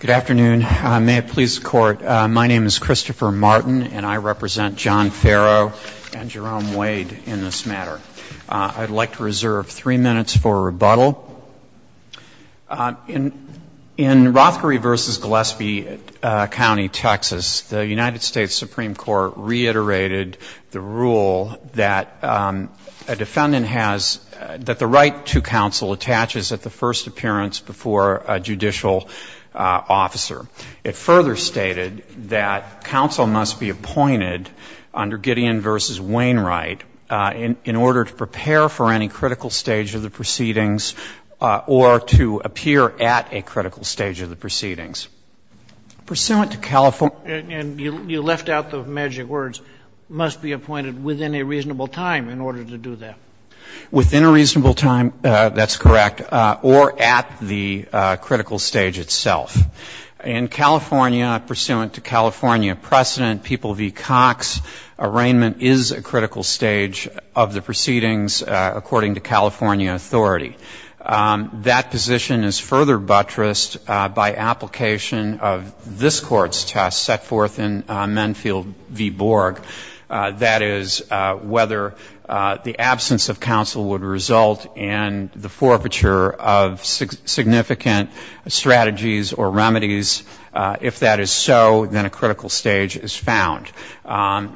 Good afternoon. May it please the Court, my name is Christopher Martin, and I represent John Farrow and Jerome Wade in this matter. I'd like to reserve three minutes for rebuttal. In Rothkerry v. Gillespie County, Texas, the United States Supreme Court reiterated the rule that a defendant has — that the right to counsel attaches at the first appearance before a judicial officer. It further stated that counsel must be appointed under Gideon v. Wainwright in order to prepare for any critical stage of the proceedings or to appear Pursuant to California — And you left out the magic words, must be appointed within a reasonable time in order to do that. Within a reasonable time, that's correct, or at the critical stage itself. In California, pursuant to California precedent, People v. Cox, arraignment is a critical stage of the proceedings according to California authority. That position is further buttressed by application of this Court's test set forth in Menfield v. Borg, that is, whether the absence of counsel would result in the forfeiture of significant strategies or remedies. If that is so, then a critical stage is found.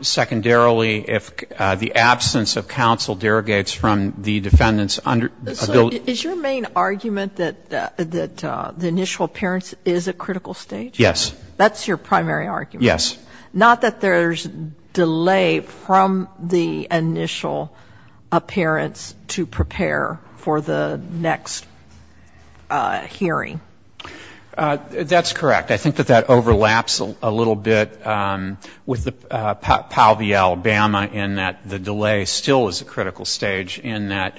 Secondarily, if the absence of counsel derogates from the defendant's ability — So is your main argument that the initial appearance is a critical stage? Yes. That's your primary argument? Yes. Not that there's delay from the initial appearance to prepare for the next hearing? That's correct. I think that that overlaps a little bit with Powell v. Alabama in that the delay still is a critical stage in that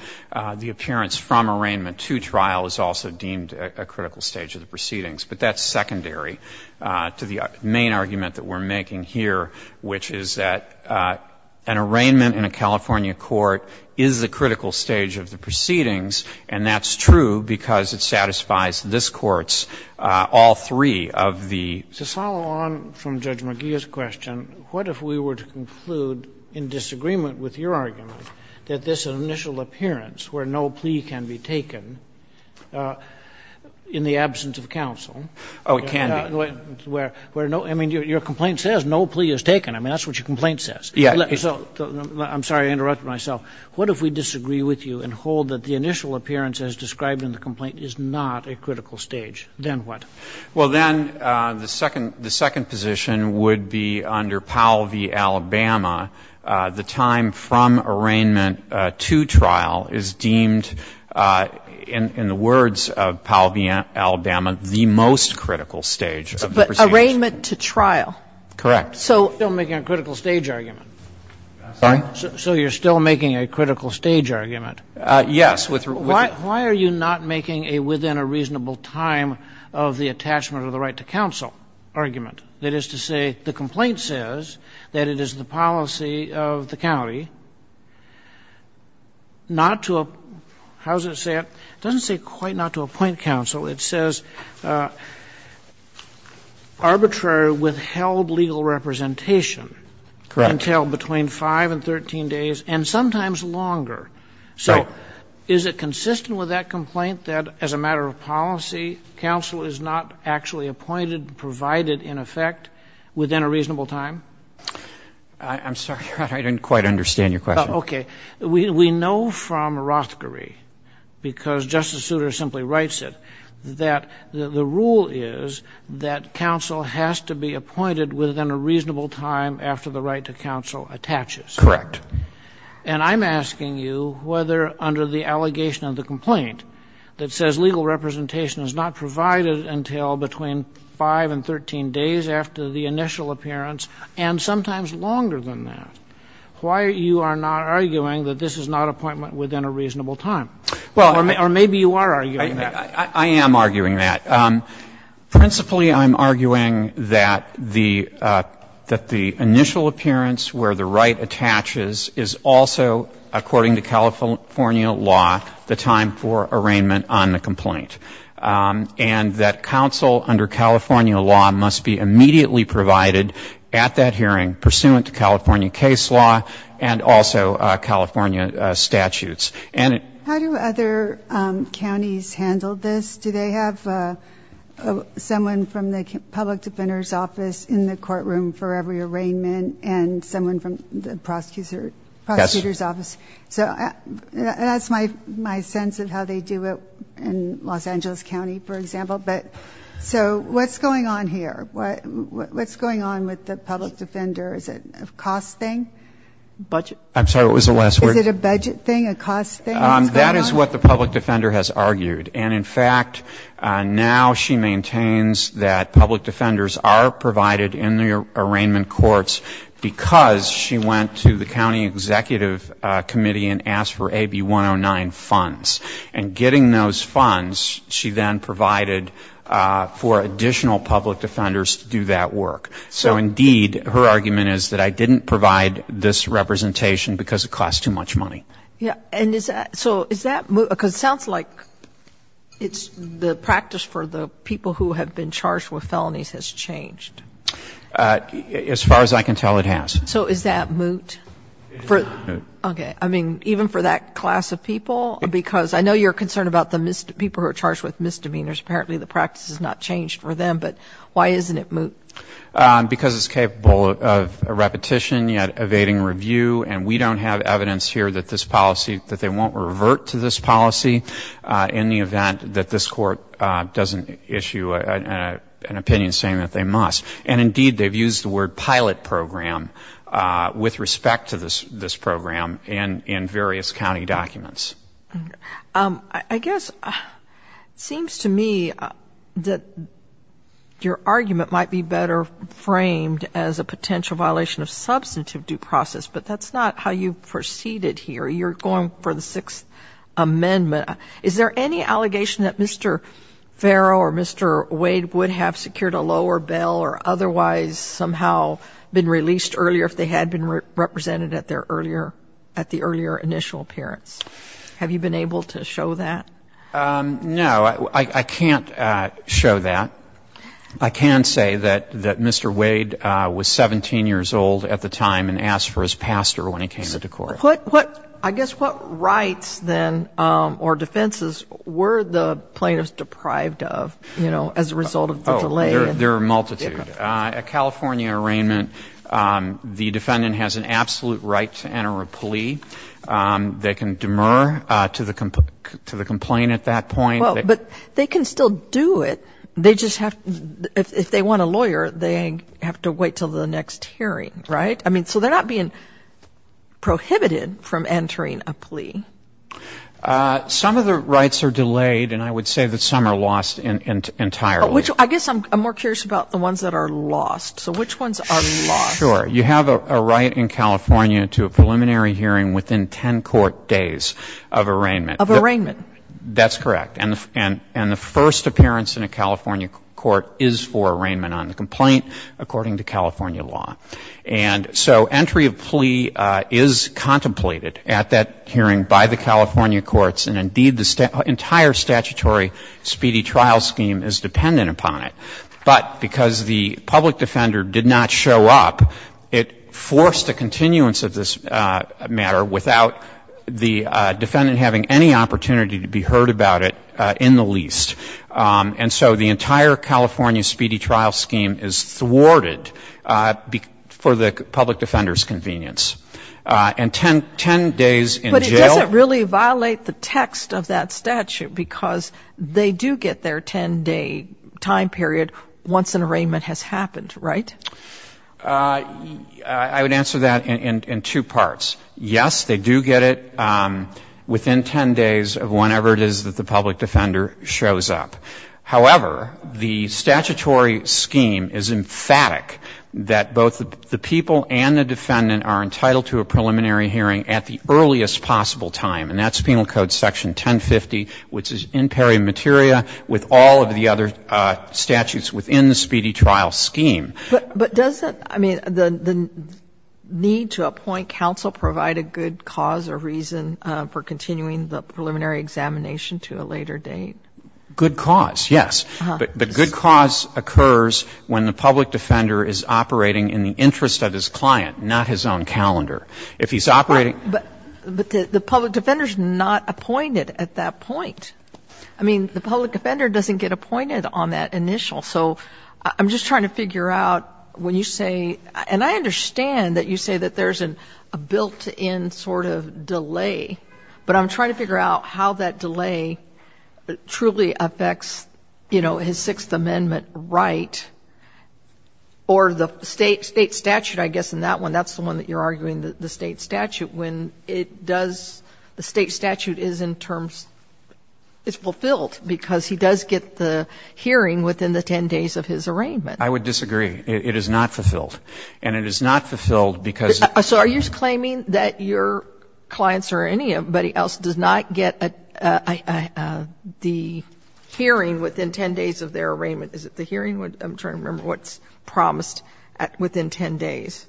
the appearance from arraignment to trial is also deemed a critical stage of the proceedings. But that's secondary to the main argument that we're making here, which is that an arraignment in a California court is the critical stage of the proceedings, and that's true because it satisfies this Court's all three of the — To follow on from Judge McGeeh's question, what if we were to conclude in disagreement with your argument that this initial appearance where no plea can be taken in the absence of counsel — Oh, it can be. Where no — I mean, your complaint says no plea is taken. I mean, that's what your complaint says. Yes. I'm sorry. I interrupted myself. What if we disagree with you and hold that the initial appearance as described in the complaint is not a critical stage? Then what? Well, then the second — the second position would be under Powell v. Alabama, the time from arraignment to trial is deemed, in the words of Powell v. Alabama, the most critical stage of the proceedings. But arraignment to trial? Correct. So you're still making a critical stage argument. I'm sorry? So you're still making a critical stage argument. Yes. Why are you not making a within a reasonable time of the attachment of the right to counsel argument? That is to say, the complaint says that it is the policy of the county not to — how does it say it? It doesn't say quite not to appoint counsel. It says arbitrary withheld legal representation can entail between 5 and 13 days and sometimes longer. So is it consistent with that complaint that, as a matter of policy, counsel is not actually appointed, provided, in effect, within a reasonable time? I'm sorry, Your Honor. I didn't quite understand your question. Okay. We know from Rothkari, because Justice Souter simply writes it, that the rule is that counsel has to be appointed within a reasonable time after the right to counsel attaches. Correct. And I'm asking you whether, under the allegation of the complaint that says legal representation is not provided until between 5 and 13 days after the initial appearance and sometimes longer than that, why you are not arguing that this is not appointment within a reasonable time? Or maybe you are arguing that. I am arguing that. Principally, I'm arguing that the — that the initial appearance where the right attaches is also, according to California law, the time for arraignment on the complaint, and that counsel, under California law, must be immediately provided at that hearing, pursuant to California case law and also California statutes. How do other counties handle this? Do they have someone from the public defender's office in the courtroom for every arraignment and someone from the prosecutor's office? Yes. So that's my sense of how they do it in Los Angeles County, for example. But so what's going on here? What's going on with the public defender? Is it a cost thing? Budget. I'm sorry. What was the last word? Is it a budget thing, a cost thing? That is what the public defender has argued. And in fact, now she maintains that public defenders are provided in the arraignment courts because she went to the county executive committee and asked for AB 109 funds. And getting those funds, she then provided for additional public defenders to do that work. So indeed, her argument is that I didn't provide this representation because it costs too much money. Yes. And is that so is that because it sounds like it's the practice for the people who have been charged with felonies has changed. As far as I can tell, it has. So is that moot? It is not moot. Okay. I mean, even for that class of people? Because I know you're concerned about the people who are charged with misdemeanors. Apparently the practice has not changed for them. But why isn't it moot? Because it's capable of repetition, yet evading review. And we don't have evidence here that this policy, that they won't revert to this policy in the event that this court doesn't issue an opinion saying that they must. And indeed, they've used the word pilot program with respect to this program in various county documents. I guess it seems to me that your argument might be better framed as a potential violation of substantive due process, but that's not how you proceeded here. You're going for the Sixth Amendment. Is there any allegation that Mr. Farrell or Mr. Wade would have secured a lower bail or otherwise somehow been released earlier if they had been represented at their earlier at the earlier initial appearance? Have you been able to show that? No. I can't show that. I can say that Mr. Wade was 17 years old at the time and asked for his pastor when he came into court. I guess what rights then or defenses were the plaintiffs deprived of, you know, as a result of the delay? There are a multitude. A California arraignment, the defendant has an absolute right to enter a plea. They can demur to the complaint at that point. But they can still do it. They just have to, if they want a lawyer, they have to wait until the next hearing, right? I mean, so they're not being prohibited from entering a plea. Some of the rights are delayed and I would say that some are lost entirely. I guess I'm more curious about the ones that are lost. So which ones are lost? Sure. You have a right in California to a preliminary hearing within 10 court days of arraignment. Of arraignment? That's correct. And the first appearance in a California court is for arraignment on the complaint according to California law. And so entry of plea is contemplated at that hearing by the California courts and, indeed, the entire statutory speedy trial scheme is dependent upon it. But because the public defender did not show up, it forced a continuance of this matter without the defendant having any opportunity to be heard about it in the least. And so the entire California speedy trial scheme is thwarted for the public defender's convenience. And 10 days in jail — But it doesn't really violate the text of that statute because they do get their 10-day time period once an arraignment has happened, right? I would answer that in two parts. Yes, they do get it within 10 days of whenever it is that the public defender shows up. However, the statutory scheme is emphatic that both the people and the defendant are entitled to a preliminary hearing at the earliest possible time. And that's Penal Code Section 1050, which is in peri materia with all of the other statutes within the speedy trial scheme. But doesn't — I mean, the need to appoint counsel provide a good cause or reason for continuing the preliminary examination to a later date? Good cause, yes. But good cause occurs when the public defender is operating in the interest of his client, not his own calendar. If he's operating — But the public defender is not appointed at that point. I mean, the public offender doesn't get appointed on that initial. So I'm just trying to figure out when you say — and I understand that you say that there's a built-in sort of delay, but I'm trying to figure out how that delay truly affects, you know, his Sixth Amendment right or the State statute, I guess, in that one. That's the one that you're arguing, the State statute, when it does — the State statute is in terms — it's fulfilled because he does get the hearing within the 10 days of his arraignment. I would disagree. It is not fulfilled. And it is not fulfilled because — So are you claiming that your clients or anybody else does not get a — the hearing within 10 days of their arraignment? Is it the hearing? I'm trying to remember what's promised within 10 days.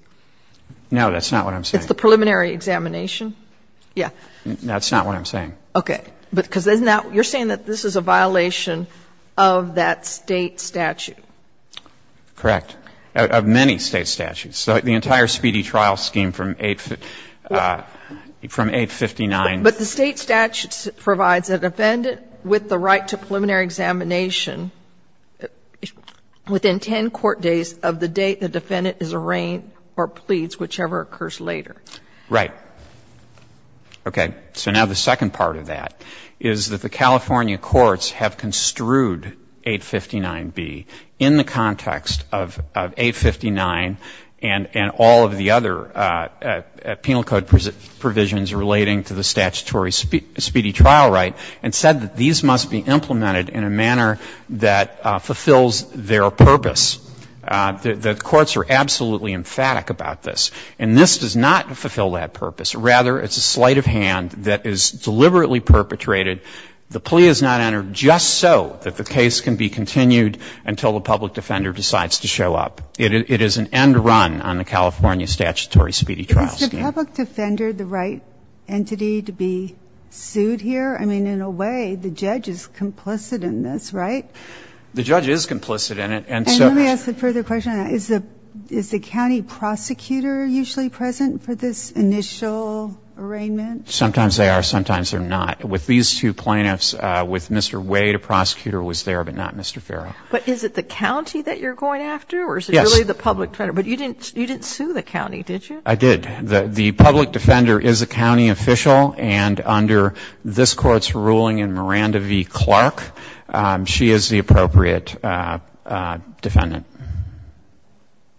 No, that's not what I'm saying. It's the preliminary examination? Yeah. That's not what I'm saying. Okay. Because now you're saying that this is a violation of that State statute. Correct. Of many State statutes. The entire Speedy Trial scheme from 859. But the State statute provides a defendant with the right to preliminary examination within 10 court days of the date the defendant is arraigned or pleads, whichever occurs later. Right. Okay. So now the second part of that is that the California courts have construed 859B in the context of 859 and all of the other penal code provisions relating to the statutory Speedy Trial right and said that these must be implemented in a manner that fulfills their purpose. The courts are absolutely emphatic about this. And this does not fulfill that purpose. Rather, it's a sleight of hand that is deliberately perpetrated. The plea is not entered just so that the case can be continued until the public defender decides to show up. It is an end run on the California statutory Speedy Trial scheme. Is the public defender the right entity to be sued here? I mean, in a way, the judge is complicit in this, right? The judge is complicit in it. And let me ask a further question. Is the county prosecutor usually present for this initial arraignment? Sometimes they are, sometimes they're not. With these two plaintiffs, with Mr. Wade, a prosecutor was there, but not Mr. Farrow. But is it the county that you're going after or is it really the public defender? But you didn't sue the county, did you? I did. The public defender is a county official, and under this Court's ruling in Miranda v. Clark, she is the appropriate defendant.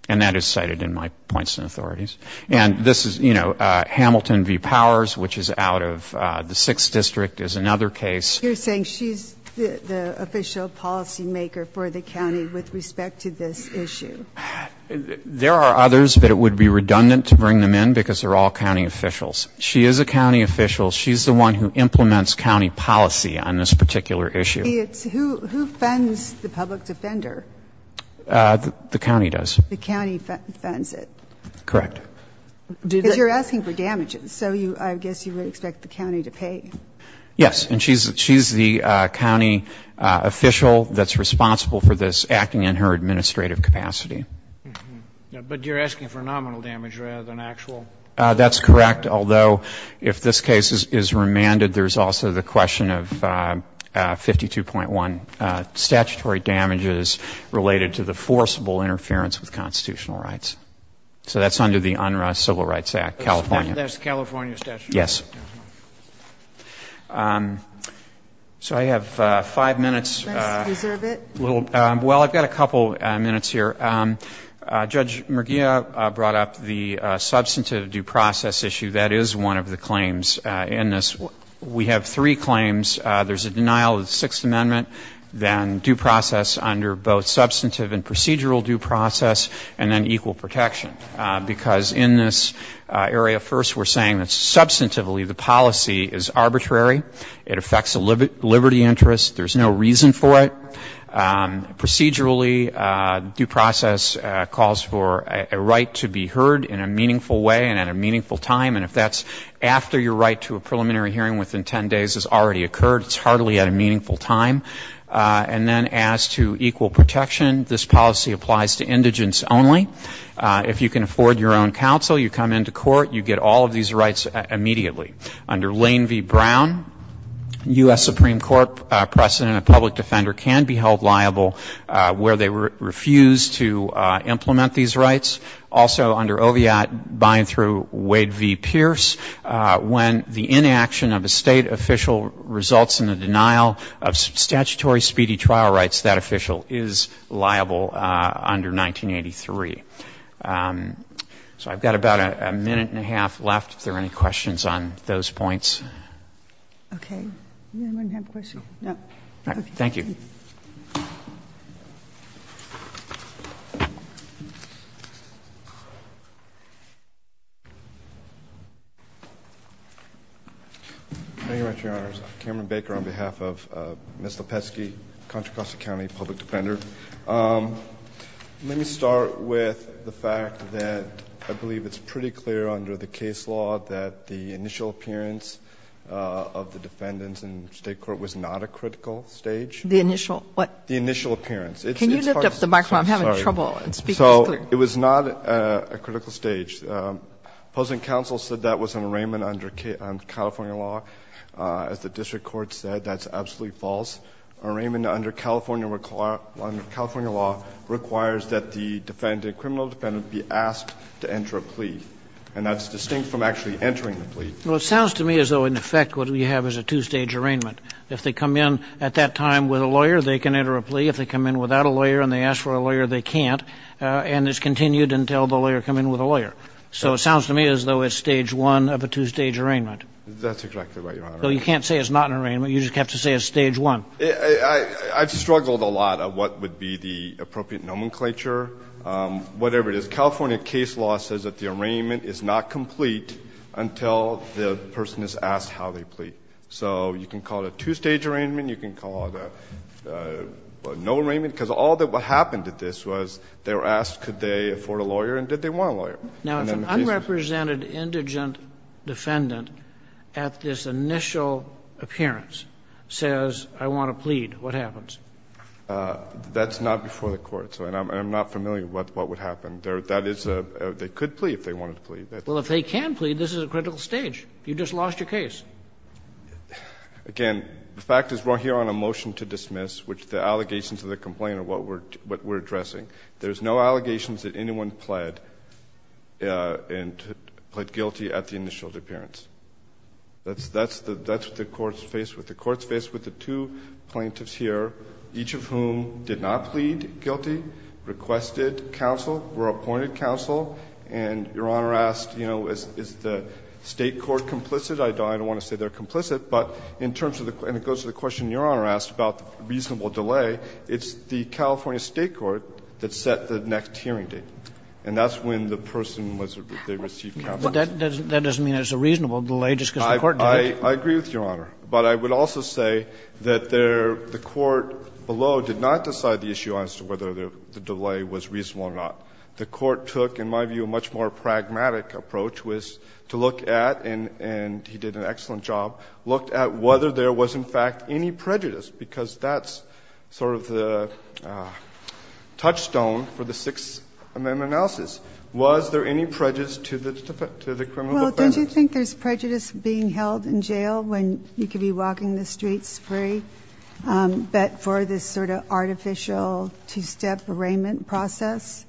And that is cited in my points and authorities. And this is, you know, Hamilton v. Powers, which is out of the 6th District, is another case. You're saying she's the official policymaker for the county with respect to this issue? There are others, but it would be redundant to bring them in because they're all county officials. She is a county official. She's the one who implements county policy on this particular issue. It's who fends the public defender? The county does. The county fends it? Correct. Because you're asking for damages, so I guess you would expect the county to pay. Yes. And she's the county official that's responsible for this, acting in her administrative capacity. But you're asking for nominal damage rather than actual? That's correct. Although, if this case is remanded, there's also the question of 52.1 statutory damages related to the forcible interference with constitutional rights. So that's under the UNRRA Civil Rights Act, California. That's California statutory damage? Yes. So I have five minutes. Let's reserve it. Well, I've got a couple minutes here. Judge Murguia brought up the substantive due process issue. That is one of the claims in this. We have three claims. There's a denial of the Sixth Amendment, then due process under both substantive and procedural due process, and then equal protection. Because in this area, first we're saying that substantively the policy is arbitrary. It affects the liberty interest. There's no reason for it. Procedurally, due process calls for a right to be heard in a meaningful way and at a meaningful time. And if that's after your right to a preliminary hearing within 10 days has already occurred, it's hardly at a meaningful time. And then as to equal protection, this policy applies to indigents only. If you can afford your own counsel, you come into court, you get all of these rights immediately. Under Lane v. Brown, U.S. Supreme Court precedent, a public defender can be held liable where they refuse to implement these rights. Also under Oviatt-Byne through Wade v. Pierce, when the inaction of a state official results in the denial of statutory speedy trial rights, that official is liable under 1983. So I've got about a minute and a half left. If there are any questions on those points. Okay. Anyone have a question? No. All right. Thank you. Thank you very much, Your Honors. Cameron Baker on behalf of Ms. Lepesky, Contra Costa County Public Defender. Let me start with the fact that I believe it's pretty clear under the case law that the initial appearance of the defendants in state court was not a critical stage. The initial what? The initial appearance. Can you lift up the microphone? I'm having trouble. Sorry. So it was not a critical stage. Opposing counsel said that was an arraignment under California law. As the district court said, that's absolutely false. An arraignment under California law requires that the defendant, criminal defendant, be asked to enter a plea. And that's distinct from actually entering the plea. Well, it sounds to me as though in effect what we have is a two-stage arraignment. If they come in at that time with a lawyer, they can enter a plea. If they come in without a lawyer and they ask for a lawyer, they can't. And it's continued until the lawyer come in with a lawyer. So it sounds to me as though it's stage one of a two-stage arraignment. That's exactly right, Your Honor. So you can't say it's not an arraignment. You just have to say it's stage one. I've struggled a lot of what would be the appropriate nomenclature, whatever it is. California case law says that the arraignment is not complete until the person is asked how they plea. So you can call it a two-stage arraignment. You can call it a no arraignment, because all that happened at this was they were asked could they afford a lawyer and did they want a lawyer. Now, if an unrepresented indigent defendant at this initial appearance says, I want to plead, what happens? That's not before the court, so I'm not familiar with what would happen. That is a they could plea if they wanted to plea. Well, if they can plea, this is a critical stage. You just lost your case. Again, the fact is we're here on a motion to dismiss, which the allegations of the complaint are what we're addressing. There's no allegations that anyone pled and pled guilty at the initial appearance. That's what the court's faced with. The court's faced with the two plaintiffs here, each of whom did not plead guilty, requested counsel, were appointed counsel, and Your Honor asked, you know, is the State court complicit? I don't want to say they're complicit, but in terms of the question Your Honor asked about the reasonable delay, it's the California State court that set the next hearing date, and that's when the person was, they received counsel. That doesn't mean it's a reasonable delay just because the court did it. I agree with Your Honor, but I would also say that there, the court below did not decide the issue as to whether the delay was reasonable or not. The court took, in my view, a much more pragmatic approach, was to look at, and he did an excellent job, looked at whether there was, in fact, any prejudice, because that's sort of the touchstone for the Sixth Amendment analysis. Was there any prejudice to the criminal offense? Well, don't you think there's prejudice being held in jail when you could be walking the streets free, but for this sort of artificial two-step arraignment process?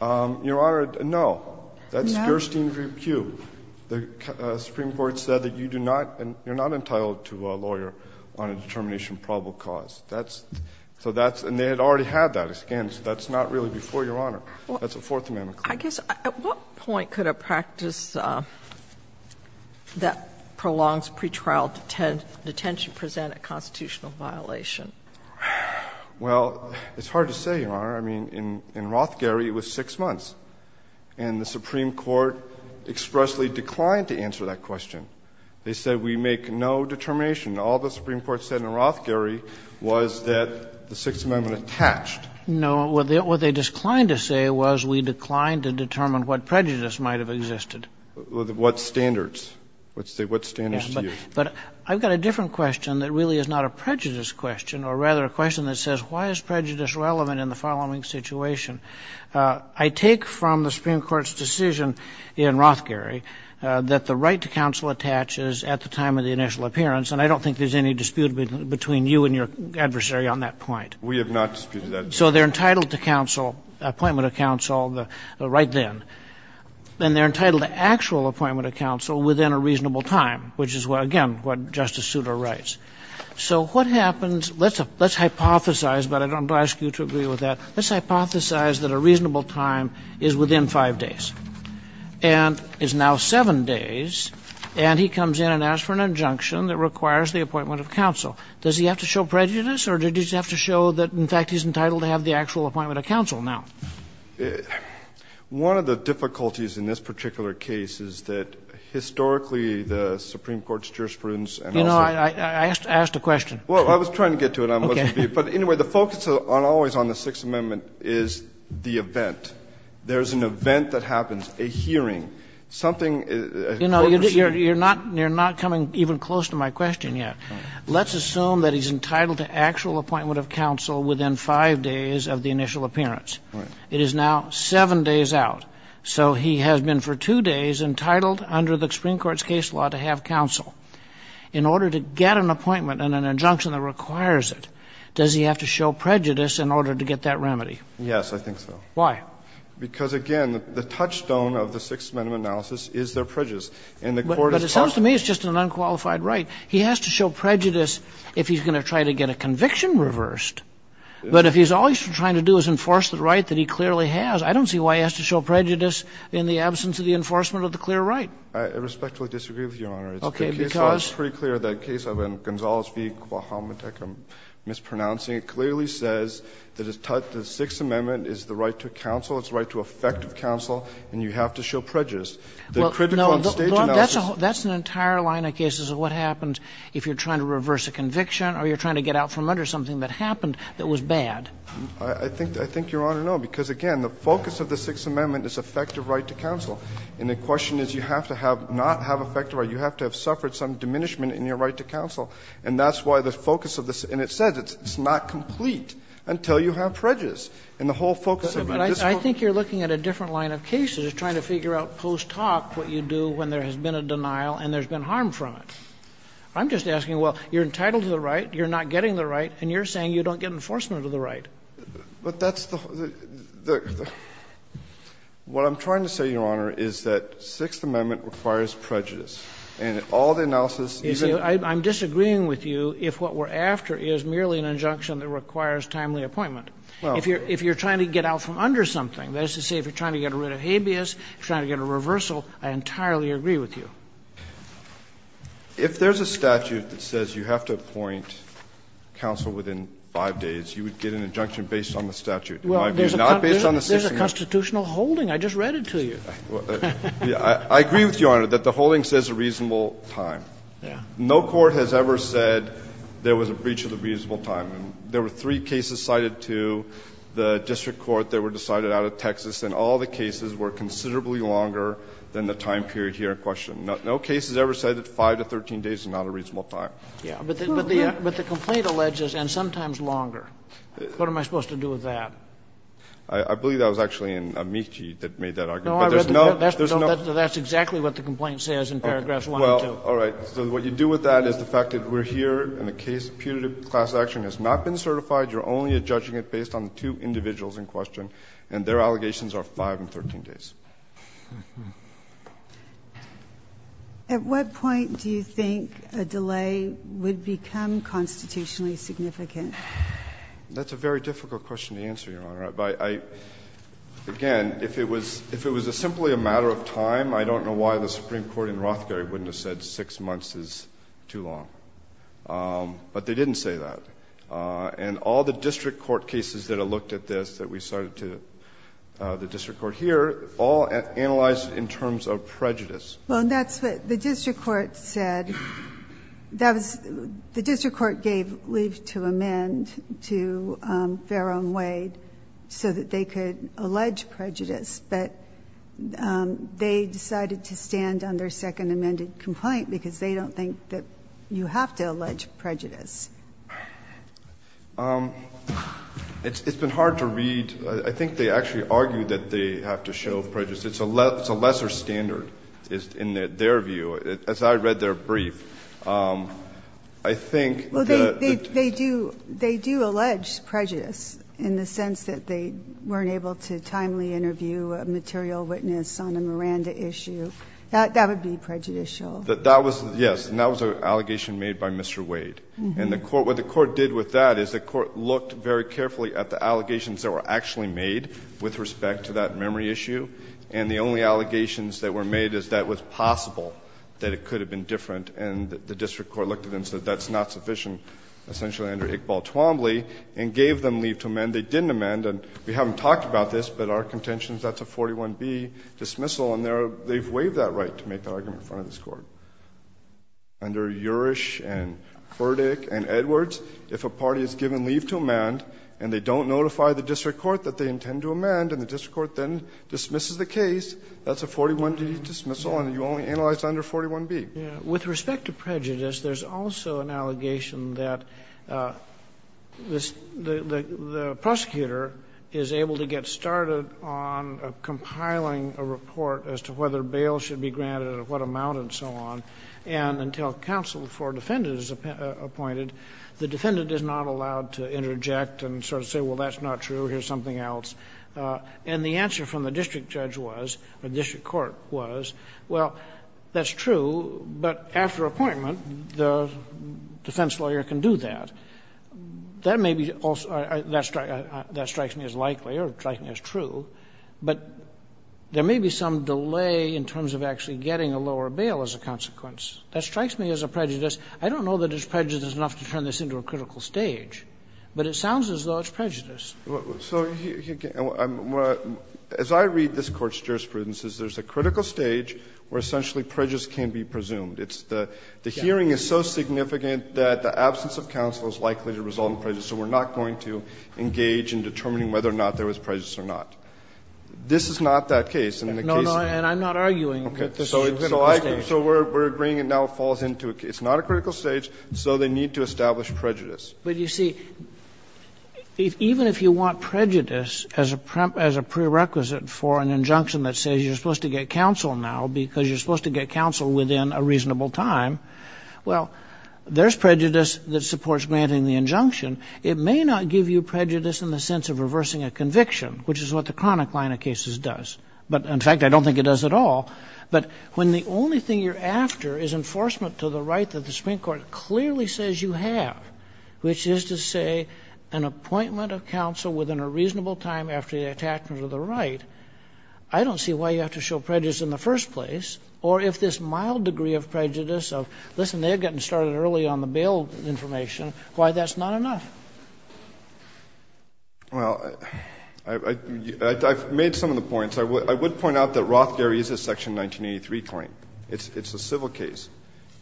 Your Honor, no. No? That's Gerstein v. Kube. The Supreme Court said that you do not, you're not entitled to a lawyer on a determination of probable cause. That's, so that's, and they had already had that, again, so that's not really before Your Honor. That's a Fourth Amendment claim. I guess, at what point could a practice that prolongs pretrial detention present a constitutional violation? Well, it's hard to say, Your Honor. I mean, in Rothgerry, it was 6 months. And the Supreme Court expressly declined to answer that question. They said, we make no determination. All the Supreme Court said in Rothgerry was that the Sixth Amendment attached. No, what they declined to say was we declined to determine what prejudice might have existed. What standards? What standards do you use? But I've got a different question that really is not a prejudice question, or rather a question that says, why is prejudice relevant in the following situation? I take from the Supreme Court's decision in Rothgerry that the right to counsel attaches at the time of the initial appearance, and I don't think there's any dispute between you and your adversary on that point. We have not disputed that. So they're entitled to counsel, appointment of counsel, right then. And they're entitled to actual appointment of counsel within a reasonable time, which is, again, what Justice Souter writes. So what happens, let's hypothesize, but I don't ask you to agree with that. Let's hypothesize that a reasonable time is within five days, and it's now seven days, and he comes in and asks for an injunction that requires the appointment of counsel. Does he have to show prejudice, or did he just have to show that, in fact, he's entitled to have the actual appointment of counsel now? One of the difficulties in this particular case is that historically the Supreme Court's jurisprudence and also the Supreme Court's jurisprudence and also the Supreme Court's jurisprudence and the Supreme Court's jurisprudence is that the appointment is the event. There's an event that happens, a hearing, something that's foreseen. You're not coming even close to my question yet. Let's assume that he's entitled to actual appointment of counsel within five days of the initial appearance. It is now seven days out. So he has been for two days entitled under the Supreme Court's case law to have counsel. In order to get an appointment and an injunction that requires it, does he have to show prejudice in order to get that remedy? Yes, I think so. Why? Because, again, the touchstone of the Sixth Amendment analysis is their prejudice. And the Court has talked about it. But it sounds to me it's just an unqualified right. He has to show prejudice if he's going to try to get a conviction reversed. But if all he's trying to do is enforce the right that he clearly has, I don't see why he has to show prejudice in the absence of the enforcement of the clear right. I respectfully disagree with you, Your Honor. Okay, because? It's pretty clear that the case of Gonzales v. Quahomatek, I'm mispronouncing it, clearly says that the Sixth Amendment is the right to counsel, it's the right to effective counsel, and you have to show prejudice. The critical stage analysis That's an entire line of cases of what happens if you're trying to reverse a conviction or you're trying to get out from under something that happened that was bad. I think, Your Honor, no, because, again, the focus of the Sixth Amendment is effective right to counsel. And the question is you have to have not have effective right. You have to have suffered some diminishment in your right to counsel. And that's why the focus of this, and it says it's not complete until you have prejudice. And the whole focus of this I think you're looking at a different line of cases, trying to figure out post hoc what you do when there has been a denial and there's been harm from it. I'm just asking, well, you're entitled to the right, you're not getting the right, and you're saying you don't get enforcement of the right. But that's the what I'm trying to say, Your Honor, is that Sixth Amendment requires prejudice. And all the analysis is in the Sixth Amendment. Kennedy, I'm disagreeing with you if what we're after is merely an injunction that requires timely appointment. If you're trying to get out from under something, that is to say if you're trying to get rid of habeas, trying to get a reversal, I entirely agree with you. If there's a statute that says you have to appoint counsel within 5 days, you would get an injunction based on the statute. It might be not based on the Sixth Amendment. There's a constitutional holding. I just read it to you. I agree with you, Your Honor, that the holding says a reasonable time. No court has ever said there was a breach of the reasonable time. There were three cases cited to the district court that were decided out of Texas, and all the cases were considerably longer than the time period here in question. No case has ever said that 5 to 13 days is not a reasonable time. But the complaint alleges and sometimes longer. What am I supposed to do with that? I believe that was actually in Amici that made that argument. But there's no, there's no. That's exactly what the complaint says in paragraphs 1 and 2. All right. So what you do with that is the fact that we're here and the case of putative class action has not been certified. You're only judging it based on the two individuals in question, and their allegations are 5 and 13 days. At what point do you think a delay would become constitutionally significant? That's a very difficult question to answer, Your Honor. But I, again, if it was, if it was simply a matter of time, I don't know why the Supreme Court in Rothgary wouldn't have said 6 months is too long. But they didn't say that. And all the district court cases that have looked at this that we cited to the district court here, all analyzed in terms of prejudice. Well, and that's what the district court said. That was, the district court gave leave to amend to Farrow and Wade. So that they could allege prejudice. But they decided to stand on their second amended complaint because they don't think that you have to allege prejudice. It's been hard to read. I think they actually argue that they have to show prejudice. It's a lesser standard in their view. So they argued that they weren't able to timely interview a material witness on the Miranda issue. That would be prejudicial. That was, yes. And that was an allegation made by Mr. Wade. And the court, what the court did with that is the court looked very carefully at the allegations that were actually made with respect to that memory issue. And the only allegations that were made is that it was possible that it could have been different, and the district court looked at them and said that's not sufficient, essentially under Iqbal Twombly. And gave them leave to amend. They didn't amend. And we haven't talked about this, but our contention is that's a 41B dismissal. And they've waived that right to make that argument in front of this Court. Under Urish and Furdick and Edwards, if a party is given leave to amend and they don't notify the district court that they intend to amend and the district court then dismisses the case, that's a 41D dismissal and you only analyze under 41B. With respect to prejudice, there's also an allegation that the prosecutor is able to get started on compiling a report as to whether bail should be granted and at what amount and so on, and until counsel for defendant is appointed, the defendant is not allowed to interject and sort of say, well, that's not true, here's something else. And the answer from the district judge was, or the district court was, well, that's true, but after appointment, the defense lawyer can do that. That may be also that strikes me as likely or strikes me as true, but there may be some delay in terms of actually getting a lower bail as a consequence. That strikes me as a prejudice. I don't know that it's prejudice enough to turn this into a critical stage, but it sounds as though it's prejudice. Goldstein, Jr.: As I read this Court's jurisprudence, there's a critical stage where essentially prejudice can't be presumed. The hearing is so significant that the absence of counsel is likely to result in prejudice, so we're not going to engage in determining whether or not there was prejudice or not. This is not that case, in the case of the case. Kagan. And I'm not arguing that it's just a critical stage. Goldstein, Jr.: Okay. So we're agreeing and now it falls into, it's not a critical stage, so they need to establish prejudice. Kennedy, Jr.: But, you see, even if you want prejudice as a prerequisite for an injunction that says you're supposed to get counsel now because you're supposed to get counsel within a reasonable time, well, there's prejudice that supports granting the injunction. It may not give you prejudice in the sense of reversing a conviction, which is what the chronic line of cases does. But, in fact, I don't think it does at all. But when the only thing you're after is enforcement to the right that the Supreme Court says you have, which is to say an appointment of counsel within a reasonable time after the attachment of the right, I don't see why you have to show prejudice in the first place, or if this mild degree of prejudice of, listen, they're getting started early on the bail information, why that's not enough. Well, I've made some of the points. I would point out that Roth, Gary, is a Section 1983 claim. It's a civil case.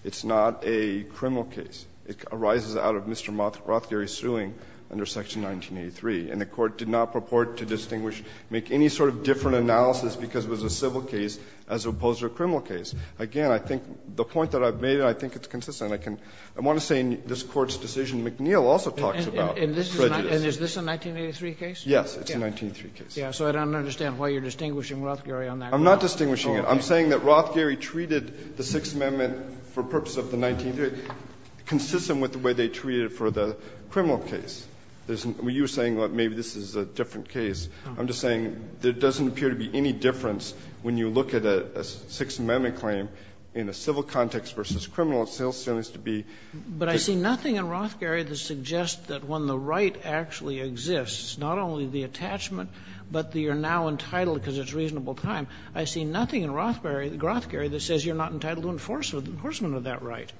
It's not a criminal case. It arises out of Mr. Roth, Gary's suing under Section 1983. And the Court did not purport to distinguish, make any sort of different analysis because it was a civil case as opposed to a criminal case. Again, I think the point that I've made, I think it's consistent. I can – I want to say in this Court's decision, McNeil also talks about prejudice. And is this a 1983 case? Yes, it's a 1983 case. Yes. So I don't understand why you're distinguishing Roth, Gary on that. I'm not distinguishing it. I'm saying that Roth, Gary treated the Sixth Amendment for purposes of the 1983. It's consistent with the way they treated it for the criminal case. You're saying, well, maybe this is a different case. I'm just saying there doesn't appear to be any difference when you look at a Sixth Amendment claim in a civil context versus criminal. It still seems to be the case. But I see nothing in Roth, Gary that suggests that when the right actually exists, not only the attachment, but that you're now entitled because it's reasonable time. I see nothing in Roth, Gary that says you're not entitled to enforcement of that right.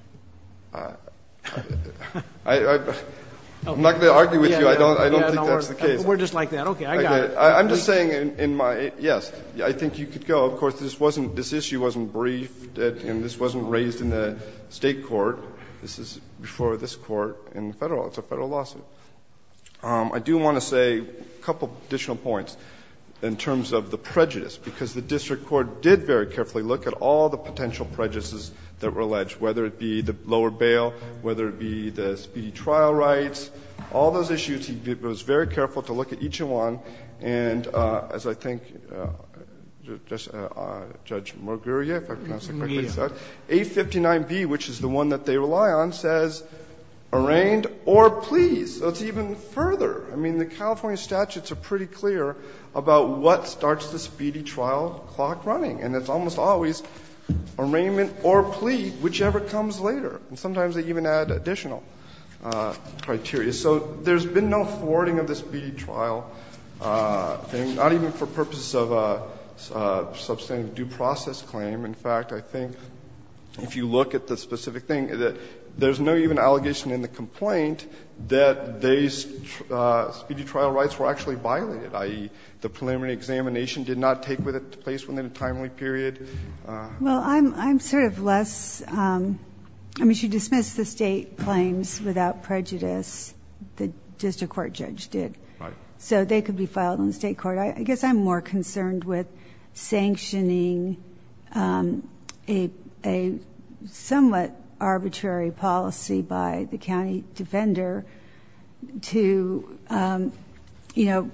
I'm not going to argue with you. I don't think that's the case. We're just like that. Okay. I got it. I'm just saying in my – yes, I think you could go. Of course, this wasn't – this issue wasn't briefed and this wasn't raised in the State court. This is before this Court in the Federal – it's a Federal lawsuit. I do want to say a couple of additional points in terms of the prejudice, because the district court did very carefully look at all the potential prejudices that were alleged, whether it be the lower bail, whether it be the speedy trial rights, all those issues. It was very careful to look at each one. And as I think Judge Murguria, if I pronounced it correctly, said, A59B, which is the one that they rely on, says, arraigned or please. So it's even further. I mean, the California statutes are pretty clear about what starts the speedy trial clock running. And it's almost always arraignment or plea, whichever comes later. And sometimes they even add additional criteria. So there's been no thwarting of the speedy trial thing, not even for purposes of a substantive due process claim. In fact, I think if you look at the specific thing, there's no even allegation in the complaint that these speedy trial rights were actually violated, i.e., the preliminary examination did not take place within a timely period. Well, I'm sort of less, I mean, she dismissed the state claims without prejudice that just a court judge did. So they could be filed in the state court. I guess I'm more concerned with sanctioning a somewhat arbitrary policy by the county defender to, you know,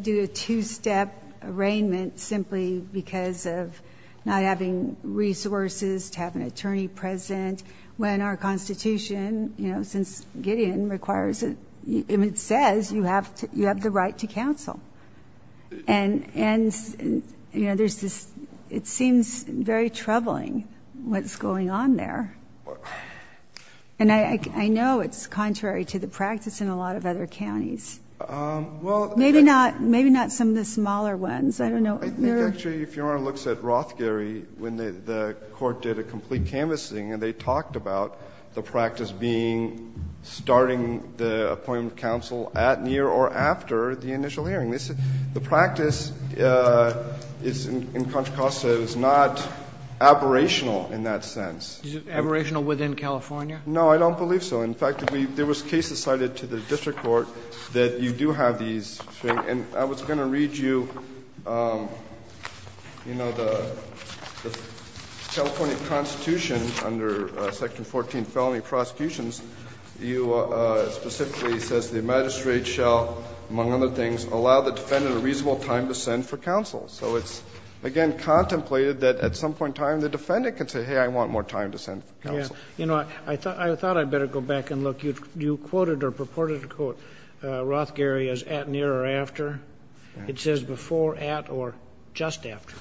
do a two-step arraignment simply because of not having resources to have an attorney present when our Constitution, you know, since Gideon requires it, it says you have to, you have the right to counsel. And, you know, there's this, it seems very troubling what's going on there. And I know it's contrary to the practice in a lot of other counties. Well, maybe not, maybe not some of the smaller ones. I don't know. I think actually if Your Honor looks at Rothgerry, when the court did a complete canvassing and they talked about the practice being starting the appointment counsel at, near or after the initial hearing. The practice in Contra Costa is not aberrational in that sense. Is it aberrational within California? No, I don't believe so. In fact, there was cases cited to the district court that you do have these things. And I was going to read you, you know, the California Constitution under Section 14, Felony Prosecutions, you specifically says the magistrate shall, among other things, allow the defendant a reasonable time to send for counsel. So it's, again, contemplated that at some point in time the defendant can say, hey, I want more time to send for counsel. You know, I thought I'd better go back and look. You quoted or purported to quote Rothgerry as at, near or after. It says before, at, or just after.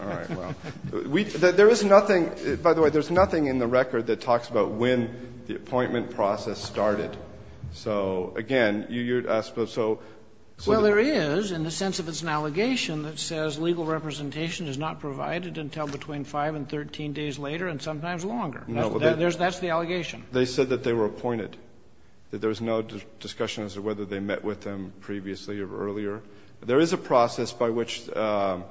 All right. Well, there is nothing, by the way, there's nothing in the record that talks about when the appointment process started. So, again, you're asking about, so. Well, there is in the sense of it's an allegation that says legal representation is not provided until between 5 and 13 days later and sometimes longer. That's the allegation. They said that they were appointed, that there was no discussion as to whether they met with them previously or earlier. There is a process by which, my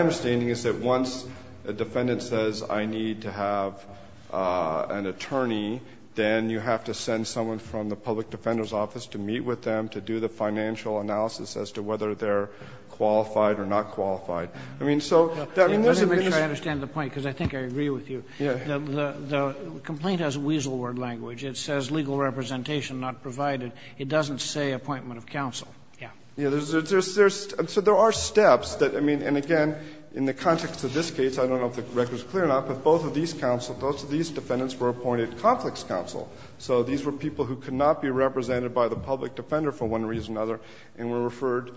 understanding is that once a defendant says I need to have an attorney, then you have to send someone from the public defender's office to meet with them to do the financial analysis as to whether they're qualified or not qualified. I mean, so that means that this is. Kagan. Let me make sure I understand the point, because I think I agree with you. The complaint has a weasel word language. It says legal representation not provided. It doesn't say appointment of counsel. Yeah. Yeah. So there are steps that, I mean, and again, in the context of this case, I don't know if the record is clear or not, but both of these counsel, both of these defendants were appointed conflicts counsel. So these were people who could not be represented by the public defender for one reason or another and were referred.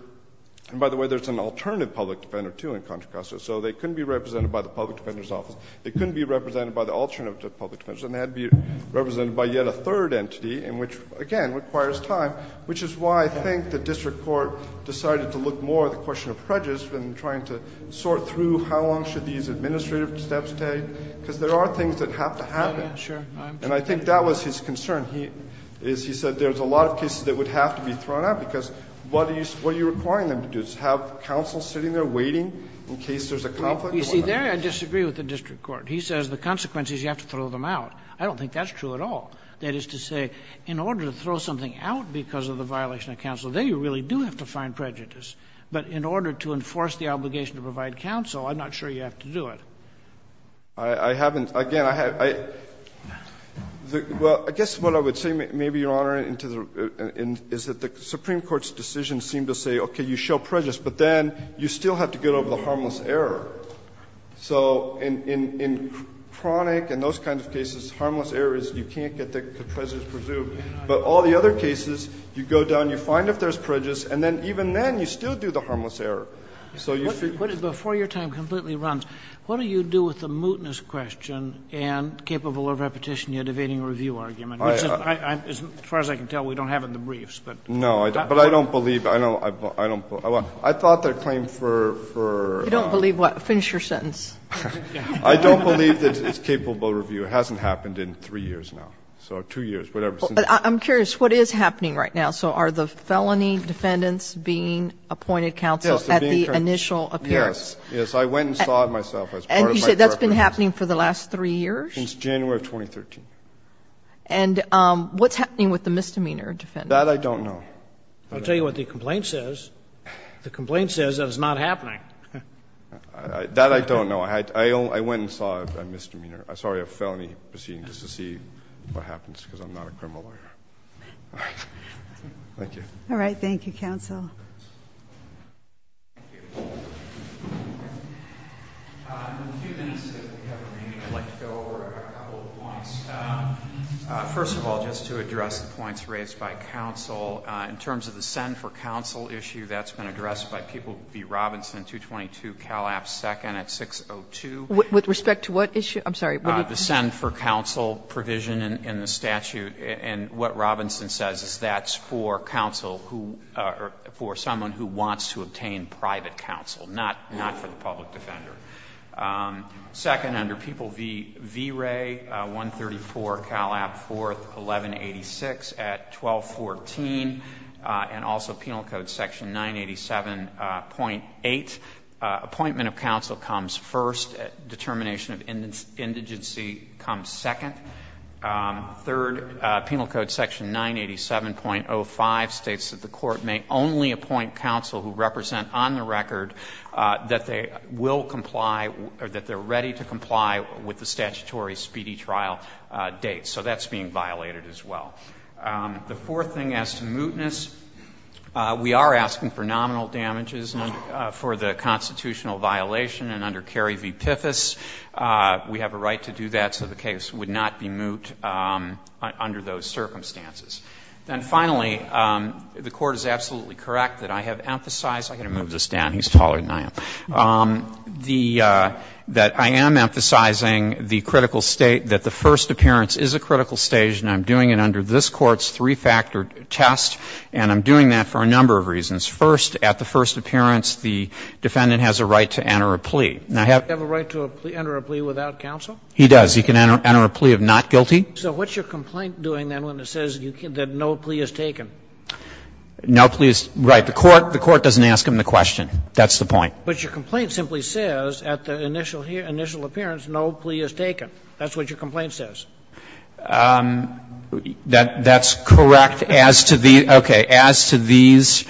And by the way, there's an alternative public defender, too, in Contra Costa. So they couldn't be represented by the public defender's office. They couldn't be represented by the alternative public defender's office. And they had to be represented by yet a third entity in which, again, requires time, which is why I think the district court decided to look more at the question of prejudice than trying to sort through how long should these administrative steps take, because there are things that have to happen. Oh, yeah, sure. And I think that was his concern. He said there's a lot of cases that would have to be thrown out, because what are you requiring them to do, to have counsel sitting there waiting in case there's a conflict? You see, there I disagree with the district court. He says the consequences, you have to throw them out. I don't think that's true at all. That is to say, in order to throw something out because of the violation of counsel, there you really do have to find prejudice. But in order to enforce the obligation to provide counsel, I'm not sure you have to do it. I haven't. Again, I haven't. Well, I guess what I would say, maybe, Your Honor, is that the Supreme Court's decision seemed to say, okay, you show prejudice, but then you still have to get over the harmless error. So in chronic and those kinds of cases, harmless error is you can't get the prejudice presumed. But all the other cases, you go down, you find if there's prejudice, and then even then you still do the harmless error. So you see you have to do it. Before your time completely runs, what do you do with the mootness question and capable of repetition yet evading review argument? As far as I can tell, we don't have it in the briefs. No, but I don't believe, I don't, I thought that claim for, for, You don't believe what? Finish your sentence. I don't believe that it's capable of review. It hasn't happened in three years now, so two years, whatever. I'm curious, what is happening right now? So are the felony defendants being appointed counsel at the initial appearance? Yes. Yes. I went and saw it myself as part of my preparations. And you said that's been happening for the last three years? Since January of 2013. And what's happening with the misdemeanor defendants? That I don't know. I'll tell you what the complaint says. The complaint says that it's not happening. That I don't know. I went and saw a misdemeanor, sorry, a felony proceeding, just to see what happens, because I'm not a criminal lawyer. All right. Thank you. All right, thank you, counsel. Thank you. In the few minutes that we have remaining, I'd like to go over a couple of points. First of all, just to address the points raised by counsel, in terms of the send for counsel issue, that's been addressed by People v. Robinson, 222 Calab, 2nd at 602. With respect to what issue? I'm sorry. The send for counsel provision in the statute. And what Robinson says is that's for counsel who or for someone who wants to obtain private counsel, not for the public defender. Second, under People v. V-Ray, 134 Calab, 4th, 1186 at 1214, and also Penal Code section 987.8, appointment of counsel comes first. Determination of indigency comes second. Third, Penal Code section 987.05 states that the court may only appoint counsel who represent on the record that they will comply or that they're ready to comply with the statutory speedy trial date. So that's being violated as well. The fourth thing as to mootness, we are asking for nominal damages for the constitutional violation, and under Kerry v. Piffus, we have a right to do that, so the case would not be moot under those circumstances. And finally, the Court is absolutely correct that I have emphasized – I'm going to move this down, he's taller than I am – that I am emphasizing the critical state, that the first appearance is a critical stage, and I'm doing it under this Court's three-factor test, and I'm doing that for a number of reasons. First, at the first appearance, the defendant has a right to enter a plea. Now, have you ever had a right to enter a plea without counsel? He does. He can enter a plea of not guilty. So what's your complaint doing, then, when it says that no plea is taken? No plea is – right. The Court doesn't ask him the question. That's the point. But your complaint simply says at the initial appearance, no plea is taken. That's what your complaint says. That's correct as to the – okay. As to these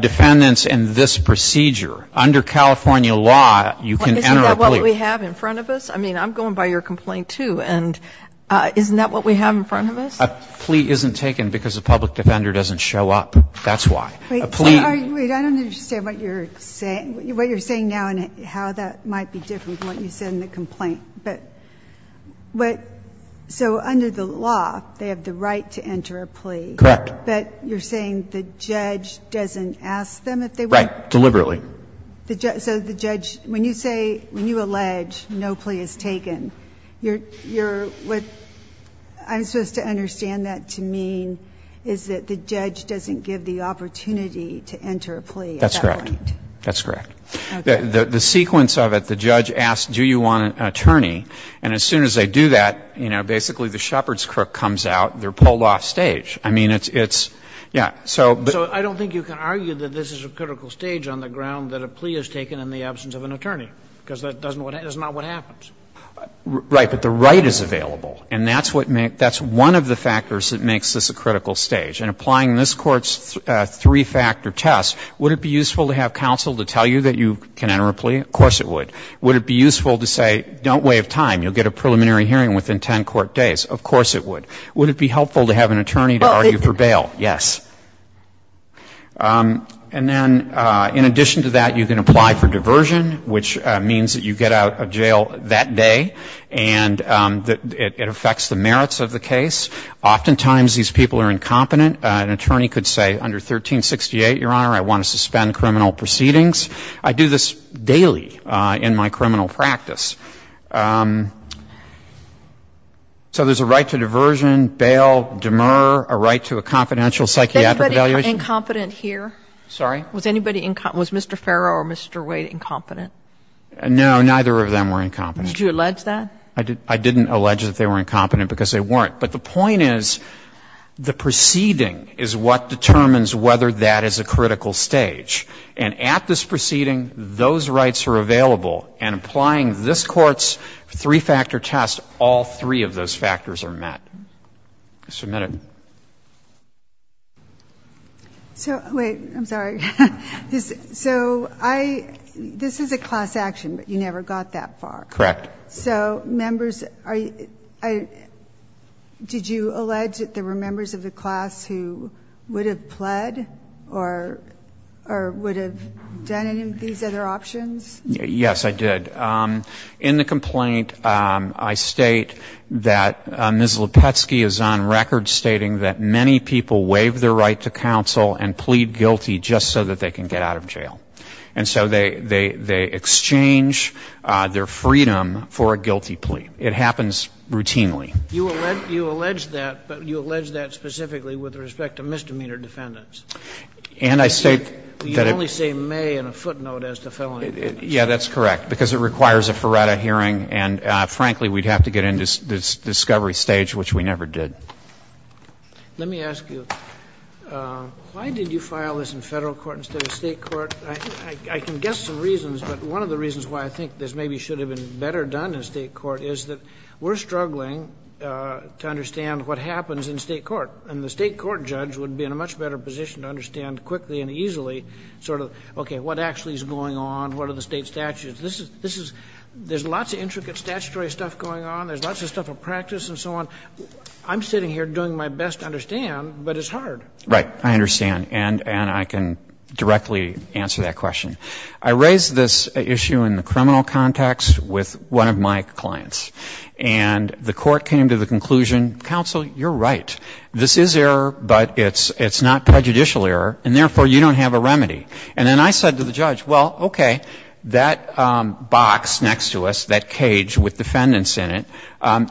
defendants in this procedure, under California law, you can enter a plea. Isn't that what we have in front of us? I mean, I'm going by your complaint, too, and isn't that what we have in front of us? A plea isn't taken because a public defender doesn't show up. That's why. A plea – Wait. I don't understand what you're saying – what you're saying now and how that might be different from what you said in the complaint. But – so under the law, they have the right to enter a plea. Correct. But you're saying the judge doesn't ask them if they want to? Right. Deliberately. So the judge – when you say – when you allege no plea is taken, you're – what I'm supposed to understand that to mean is that the judge doesn't give the opportunity to enter a plea at that point. That's correct. That's correct. Okay. The sequence of it, the judge asks, do you want an attorney? And as soon as they do that, you know, basically the shepherd's crook comes out. They're pulled off stage. I mean, it's – yeah. So – But it's not a problem that a plea is taken in the absence of an attorney, because that doesn't – that's not what happens. Right. But the right is available. And that's what makes – that's one of the factors that makes this a critical stage. And applying this Court's three-factor test, would it be useful to have counsel to tell you that you can enter a plea? Of course it would. Would it be useful to say, don't waive time, you'll get a preliminary hearing within 10 court days? Of course it would. Would it be helpful to have an attorney to argue for bail? Yes. And then in addition to that, you can apply for diversion, which means that you get out of jail that day, and it affects the merits of the case. Oftentimes these people are incompetent. An attorney could say, under 1368, Your Honor, I want to suspend criminal proceedings. I do this daily in my criminal practice. So there's a right to diversion, bail, demur, a right to a confidential psychiatric evaluation. Was anybody incompetent here? Sorry? Was anybody – was Mr. Farrow or Mr. Wade incompetent? No, neither of them were incompetent. Did you allege that? I didn't allege that they were incompetent because they weren't. But the point is, the proceeding is what determines whether that is a critical stage. And at this proceeding, those rights are available. And applying this Court's three-factor test, all three of those factors are met. Submit it. So – wait, I'm sorry. So I – this is a class action, but you never got that far. Correct. So, members, are you – did you allege that there were members of the class who would have pled or would have done any of these other options? Yes, I did. In the complaint, I state that Ms. Lepetsky is on record stating that many people waive their right to counsel and plead guilty just so that they can get out of jail. And so they exchange their freedom for a guilty plea. It happens routinely. You allege that, but you allege that specifically with respect to misdemeanor defendants. And I state that it – You only say may in a footnote as to felony defendants. Yeah, that's correct, because it requires a Faretta hearing. And, frankly, we'd have to get into this discovery stage, which we never did. Let me ask you, why did you file this in Federal court instead of State court? I can guess some reasons, but one of the reasons why I think this maybe should have been better done in State court is that we're struggling to understand what happens in State court. And the State court judge would be in a much better position to understand quickly and easily sort of, okay, what actually is going on? What are the State statutes? This is – there's lots of intricate statutory stuff going on. There's lots of stuff at practice and so on. I'm sitting here doing my best to understand, but it's hard. Right. I understand. And I can directly answer that question. I raised this issue in the criminal context with one of my clients. And the court came to the conclusion, counsel, you're right. This is error, but it's not prejudicial error. And therefore, you don't have a remedy. And then I said to the judge, well, okay, that box next to us, that cage with defendants in it,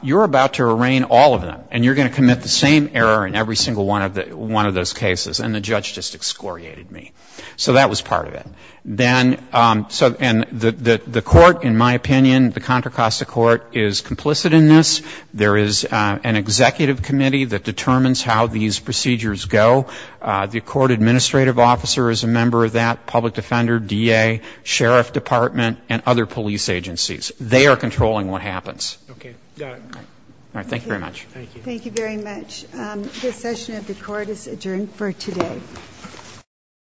you're about to arraign all of them. And you're going to commit the same error in every single one of those cases. And the judge just excoriated me. So that was part of it. Then – and the court, in my opinion, the Contra Costa Court, is complicit in this. There is an executive committee that determines how these procedures go. The court administrative officer is a member of that, public defender, DA, sheriff department, and other police agencies. They are controlling what happens. Okay. Got it. All right. Thank you very much. Thank you. Thank you very much. This session of the court is adjourned for today.